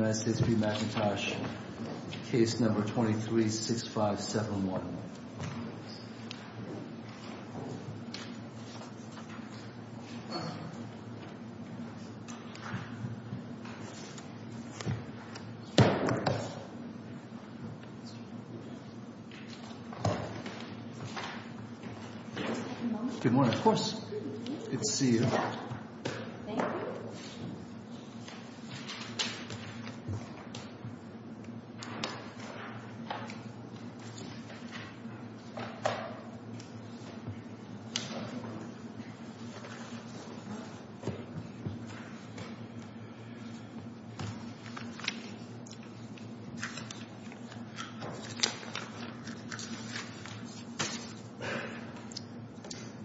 United States v. Mcintosh, case number 23-6571. Good morning, of course. Good to see you.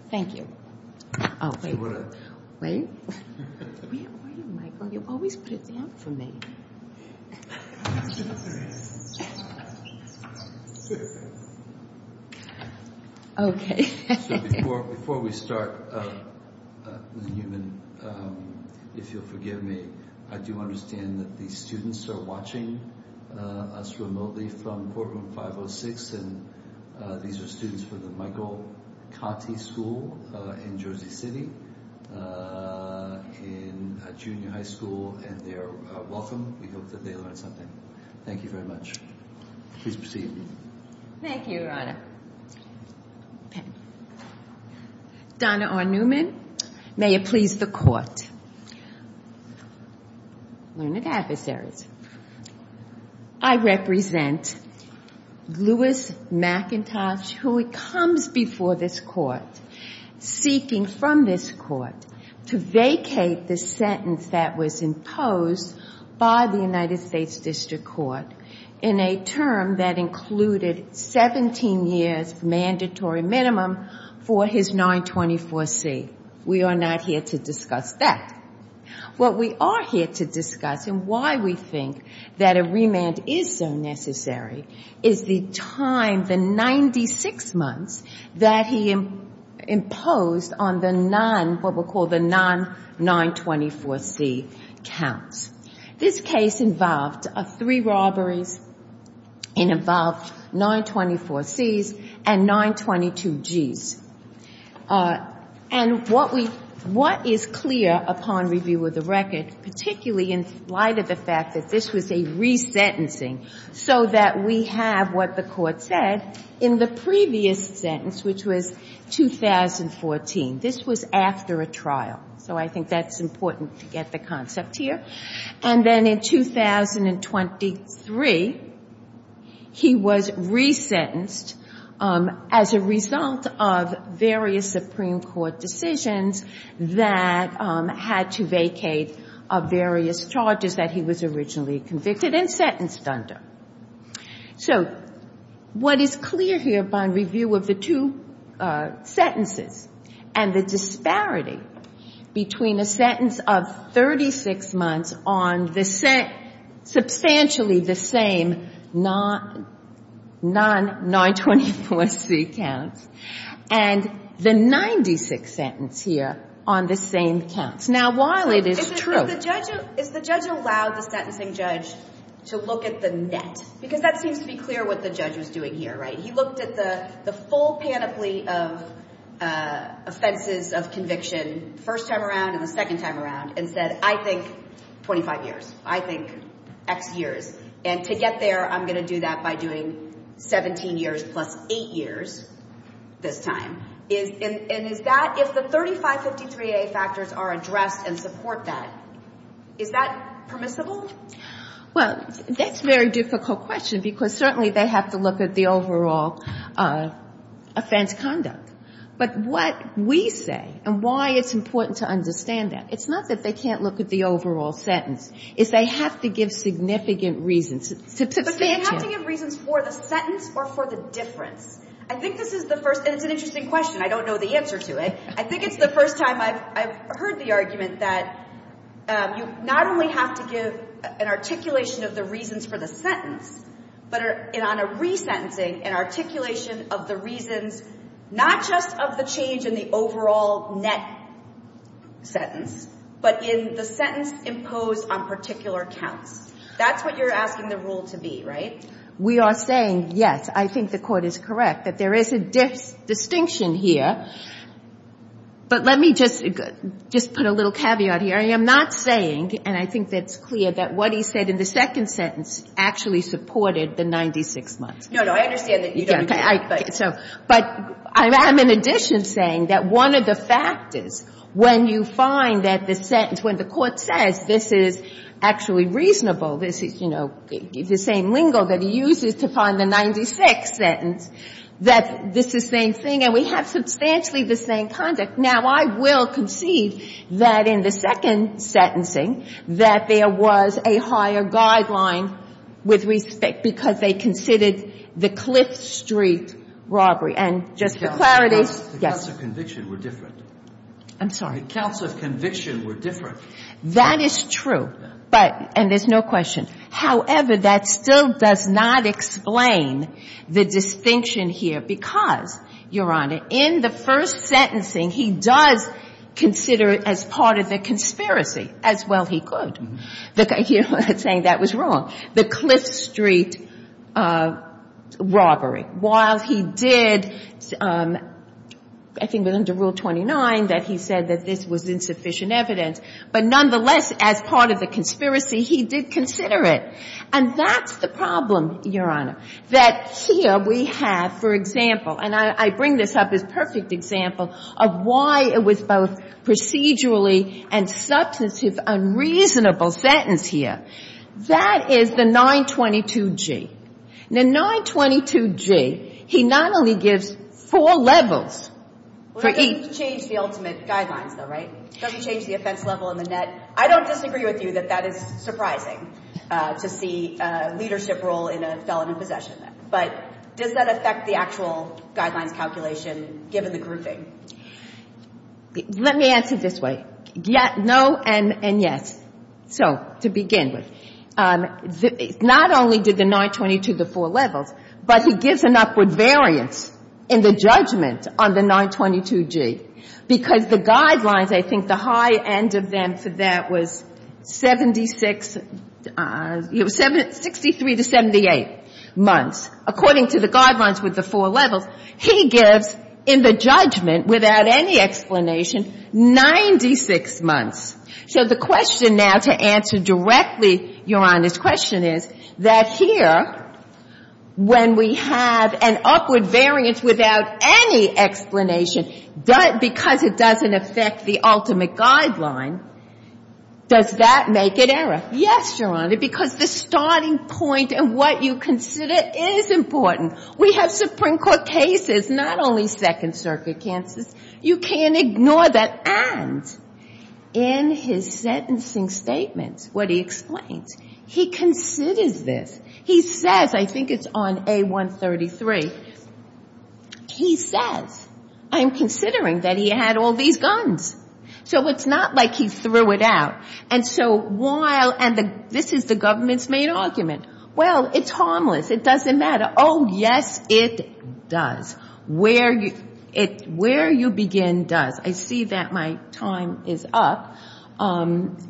Thank you. Thank you. Thank you, Michael. You always put it down for me. Okay. Thank you very much. Please proceed. Thank you, Your Honor. Okay. Donna R. Newman. May it please the Court. Learned Adversaries. I represent Louis McIntosh, who comes before this Court seeking from this Court to vacate the sentence that was imposed by the United States District Court in a term that included 17 years mandatory minimum for his 924C. We are not here to discuss that. What we are here to discuss and why we think that a remand is so necessary is the time, the 96 months, that he imposed on the non, what we'll call the non-924C counts. This case involved three robberies and involved 924Cs and 922Gs. And what is clear upon review of the record, particularly in light of the fact that this was a resentencing, so that we have what the Court said in the previous sentence, which was 2014. This was after a trial. So I think that's important to get the concept here. And then in 2023, he was resentenced as a result of various Supreme Court decisions that had to vacate various charges that he was originally convicted and sentenced under. So what is clear here upon review of the two sentences and the disparity between a sentence of 36 months on substantially the same non-924C counts and the 96th sentence here on the same counts. Is the judge allowed the sentencing judge to look at the net? Because that seems to be clear what the judge was doing here, right? He looked at the full panoply of offenses of conviction the first time around and the second time around and said, I think 25 years. I think X years. And to get there, I'm going to do that by doing 17 years plus 8 years this time. And is that, if the 3553A factors are addressed and support that, is that permissible? Well, that's a very difficult question because certainly they have to look at the overall offense conduct. But what we say and why it's important to understand that, it's not that they can't look at the overall sentence. It's they have to give significant reasons. But they have to give reasons for the sentence or for the difference. I think this is the first, and it's an interesting question. I don't know the answer to it. I think it's the first time I've heard the argument that you not only have to give an articulation of the reasons for the sentence, but on a resentencing, an articulation of the reasons not just of the change in the overall net sentence, but in the sentence imposed on particular counts. That's what you're asking the rule to be, right? We are saying, yes, I think the Court is correct, that there is a distinction here. But let me just put a little caveat here. I am not saying, and I think that's clear, that what he said in the second sentence actually supported the 96 months. No, no, I understand that you don't agree. But I'm in addition saying that one of the factors, when you find that the sentence, when the Court says this is actually reasonable, this is, you know, the same lingo that he uses to find the 96th sentence, that this is the same thing, and we have substantially the same conduct. Now, I will concede that in the second sentencing that there was a higher guideline with respect, because they considered the Cliff Street robbery. And just for clarity, yes. The counts of conviction were different. I'm sorry? The counts of conviction were different. That is true. And there's no question. However, that still does not explain the distinction here, because, Your Honor, in the first sentencing, he does consider it as part of the conspiracy, as well he could. You're saying that was wrong. The Cliff Street robbery. While he did, I think it was under Rule 29 that he said that this was insufficient evidence. But nonetheless, as part of the conspiracy, he did consider it. And that's the problem, Your Honor, that here we have, for example, and I bring this up as a perfect example of why it was both procedurally and substantive unreasonable sentence here. That is the 922G. The 922G, he not only gives four levels for each. It doesn't change the ultimate guidelines, though, right? It doesn't change the offense level and the net. I don't disagree with you that that is surprising to see a leadership role in a felon in possession. But does that affect the actual guidelines calculation given the grouping? Let me answer it this way. Yes, no, and yes. So to begin with, not only did the 922 the four levels, but he gives an upward variance in the judgment on the 922G. Because the guidelines, I think the high end of them for that was 76, 63 to 78 months. According to the guidelines with the four levels, he gives in the judgment without any explanation 96 months. So the question now to answer directly, Your Honor's question is that here when we have an upward variance without any explanation, because it doesn't affect the ultimate guideline, does that make it error? Yes, Your Honor, because the starting point and what you consider is important. We have Supreme Court cases, not only Second Circuit cases. You can't ignore that. And in his sentencing statements, what he explains, he considers this. He says, I think it's on A133, he says, I'm considering that he had all these guns. So it's not like he threw it out. And so while, and this is the government's main argument, well, it's harmless. It doesn't matter. Oh, yes, it does. Where you begin does. I see that my time is up, and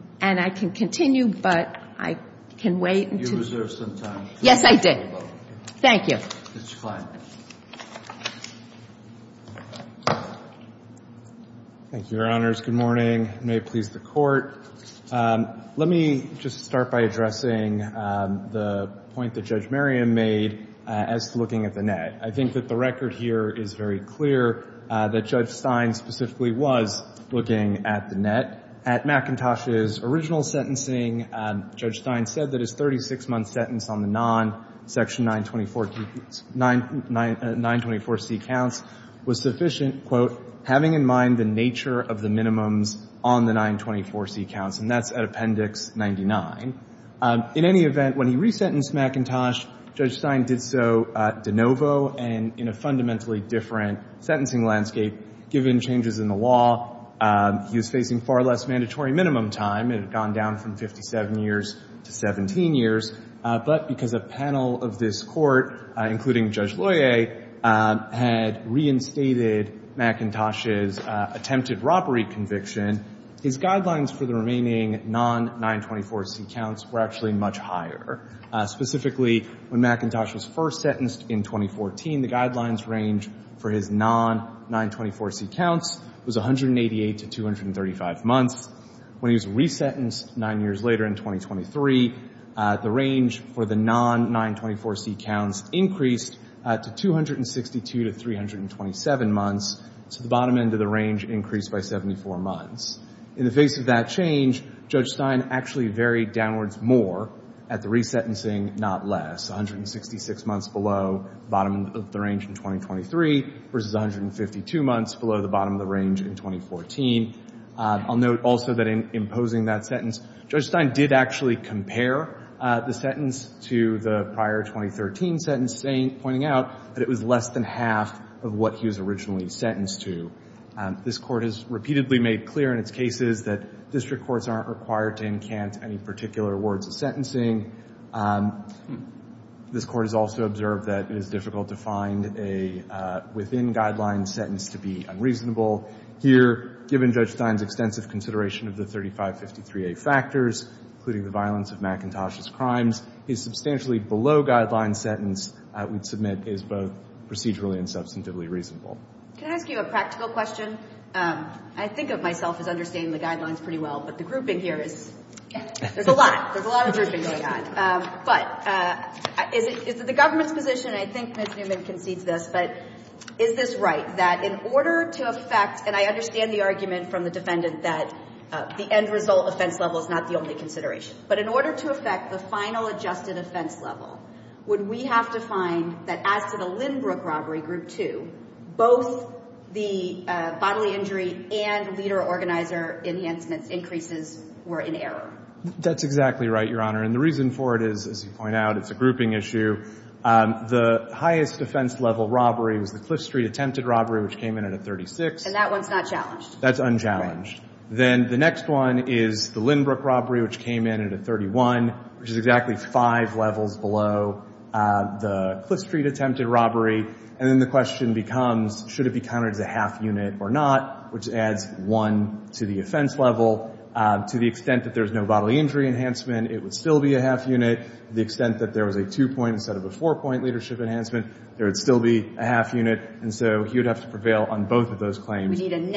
I can continue, but I can wait until. You reserved some time. Yes, I did. Thank you. Mr. Kline. Thank you, Your Honors. Good morning. May it please the Court. Let me just start by addressing the point that Judge Merriam made as to looking at the net. I think that the record here is very clear that Judge Stein specifically was looking at the net. At McIntosh's original sentencing, Judge Stein said that his 36-month sentence on the non-Section 924C counts was sufficient, quote, having in mind the nature of the minimums on the 924C counts, and that's at Appendix 99. In any event, when he resentenced McIntosh, Judge Stein did so de novo and in a fundamentally different sentencing landscape. Given changes in the law, he was facing far less mandatory minimum time. It had gone down from 57 years to 17 years. But because a panel of this Court, including Judge Loyer, had reinstated McIntosh's attempted robbery conviction, his guidelines for the remaining non-924C counts were actually much higher. Specifically, when McIntosh was first sentenced in 2014, the guidelines range for his non-924C counts was 188 to 235 months. When he was resentenced nine years later in 2023, the range for the non-924C counts increased to 262 to 327 months. So the bottom end of the range increased by 74 months. In the face of that change, Judge Stein actually varied downwards more at the resentencing, not less, 166 months below the bottom of the range in 2023 versus 152 months below the bottom of the range in 2014. I'll note also that in imposing that sentence, Judge Stein did actually compare the sentence to the prior 2013 sentence, pointing out that it was less than half of what he was originally sentenced to. This Court has repeatedly made clear in its cases that district courts aren't required to encant any particular words of sentencing. This Court has also observed that it is difficult to find a within-guidelines sentence to be unreasonable. Here, given Judge Stein's extensive consideration of the 3553A factors, including the violence of McIntosh's crimes, his substantially below-guidelines sentence, we'd submit, is both procedurally and substantively reasonable. Can I ask you a practical question? I think of myself as understanding the guidelines pretty well, but the grouping here is, there's a lot. There's a lot of grouping going on. But is it the government's position, and I think Ms. Newman concedes this, but is this right, that in order to effect, and I understand the argument from the defendant that the end result offense level is not the only consideration. But in order to effect the final adjusted offense level, would we have to find that as to the Lindbrook robbery, Group 2, both the bodily injury and leader organizer enhancements increases were in error? That's exactly right, Your Honor. And the reason for it is, as you point out, it's a grouping issue. The highest offense level robbery was the Cliff Street attempted robbery, which came in at a 36. And that one's not challenged. That's unchallenged. Then the next one is the Lindbrook robbery, which came in at a 31, which is exactly five levels below the Cliff Street attempted robbery. And then the question becomes, should it be counted as a half unit or not, which adds one to the offense level. To the extent that there's no bodily injury enhancement, it would still be a half unit. To the extent that there was a two-point instead of a four-point leadership enhancement, there would still be a half unit. And so he would have to prevail on both of those claims. We need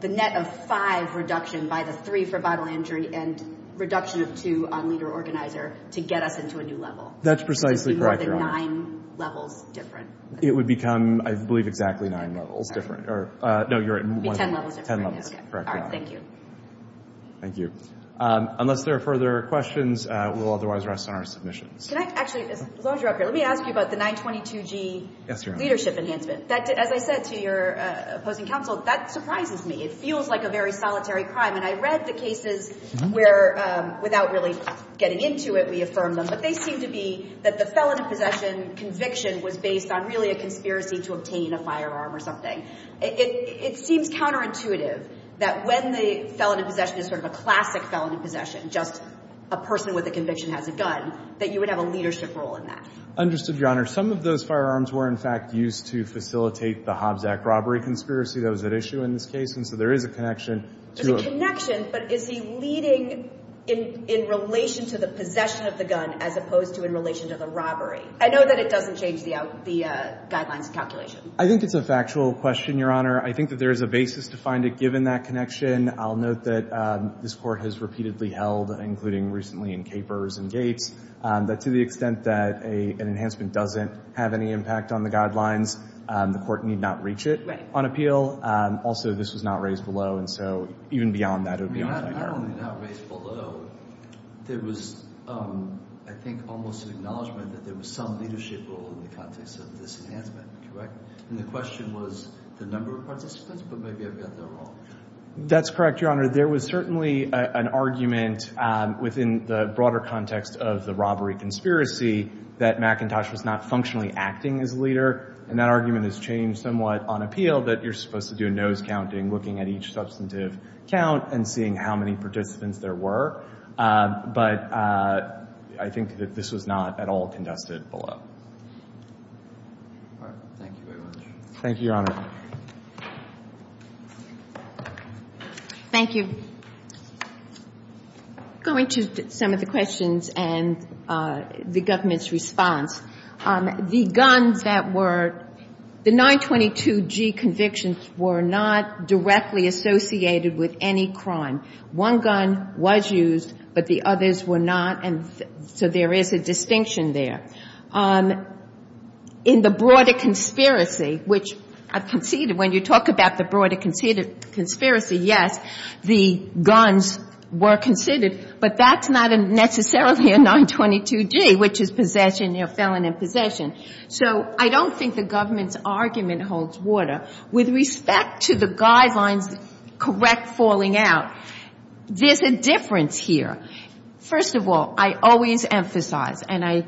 the net of five reduction by the three for bodily injury and reduction of two on leader organizer to get us into a new level. That's precisely correct, Your Honor. It would be more than nine levels different. It would become, I believe, exactly nine levels different. No, you're right. It would be 10 levels different. 10 levels. Correct, Your Honor. All right. Thank you. Thank you. Unless there are further questions, we'll otherwise rest on our submissions. Can I actually, as long as you're up here, let me ask you about the 922G leadership enhancement. That, as I said to your opposing counsel, that surprises me. It feels like a very solitary crime. And I read the cases where, without really getting into it, we affirmed them. But they seem to be that the felon in possession conviction was based on really a conspiracy to obtain a firearm or something. It seems counterintuitive that when the felon in possession is sort of a classic felon in possession, just a person with a conviction has a gun, that you would have a leadership role in that. Understood, Your Honor. Some of those firearms were, in fact, used to facilitate the Hobbs Act robbery conspiracy that was at issue in this case. And so there is a connection. There's a connection, but is he leading in relation to the possession of the gun as opposed to in relation to the robbery? I know that it doesn't change the guidelines calculation. I think it's a factual question, Your Honor. I think that there is a basis to find it, given that connection. I'll note that this Court has repeatedly held, including recently in Capers and doesn't have any impact on the guidelines. The Court need not reach it on appeal. Also, this was not raised below, and so even beyond that, it would be unfair. I mean, not only not raised below, there was, I think, almost an acknowledgement that there was some leadership role in the context of this enhancement, correct? And the question was the number of participants, but maybe I've got that wrong. That's correct, Your Honor. There was certainly an argument within the broader context of the robbery conspiracy that McIntosh was not functionally acting as a leader, and that argument has changed somewhat on appeal, that you're supposed to do a nose counting looking at each substantive count and seeing how many participants there were. But I think that this was not at all contested below. Thank you very much. Thank you, Your Honor. Thank you. Going to some of the questions and the government's response, the guns that were the 922G convictions were not directly associated with any crime. One gun was used, but the others were not, and so there is a distinction there. In the broader conspiracy, which I've conceded, when you talk about the broader conspiracy, yes, the guns were considered, but that's not necessarily a 922G, which is possession, you know, felon in possession. So I don't think the government's argument holds water. With respect to the guidelines, correct falling out, there's a difference here. First of all, I always emphasize, and I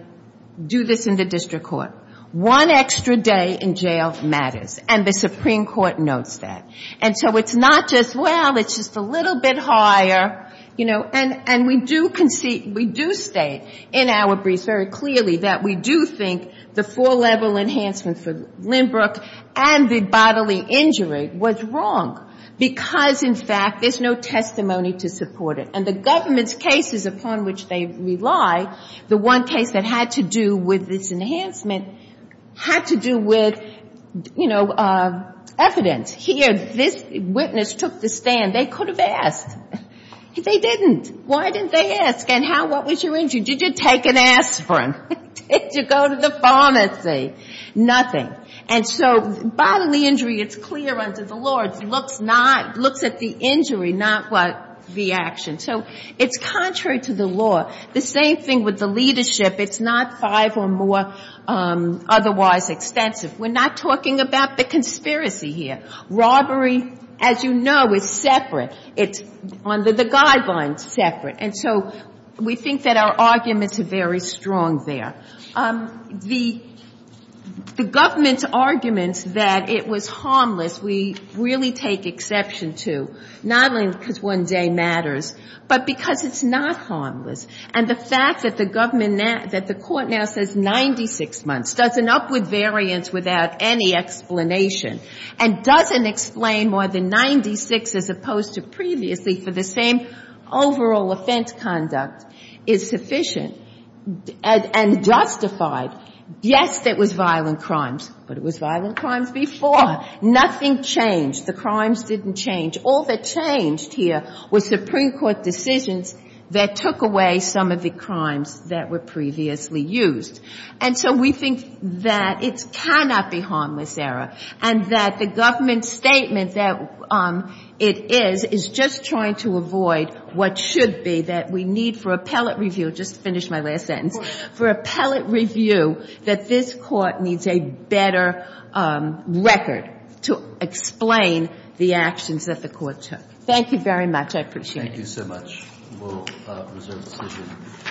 do this in the district court, one extra day in jail matters, and the Supreme Court notes that. And so it's not just, well, it's just a little bit higher, you know, and we do state in our briefs very clearly that we do think the four-level enhancement for Lindbrook and the bodily injury was wrong because, in fact, there's no testimony to support it. And the government's cases upon which they rely, the one case that had to do with this enhancement, had to do with, you know, evidence. Here, this witness took the stand. They could have asked. They didn't. Why didn't they ask? And how, what was your injury? Did you take an aspirin? Did you go to the pharmacy? Nothing. And so bodily injury, it's clear under the law. It looks not, looks at the injury, not what the action. So it's contrary to the law. The same thing with the leadership. It's not five or more otherwise extensive. We're not talking about the conspiracy here. Robbery, as you know, is separate. It's under the guidelines separate. And so we think that our arguments are very strong there. The government's arguments that it was harmless we really take exception to, not only because one day matters, but because it's not harmless. And the fact that the government now, that the court now says 96 months, does an upward variance without any explanation, and doesn't explain more than 96 as opposed to previously for the same overall offense conduct is sufficient and justified. Yes, there was violent crimes, but it was violent crimes before. Nothing changed. The crimes didn't change. All that changed here was Supreme Court decisions that took away some of the crimes that were previously used. And so we think that it cannot be harmless, Sarah, and that the government statement that it is, is just trying to avoid what should be that we need for appellate review. I'll just finish my last sentence. For appellate review that this court needs a better record to explain the actions that the court took. Thank you very much. I appreciate it. Thank you so much. We'll reserve the decision.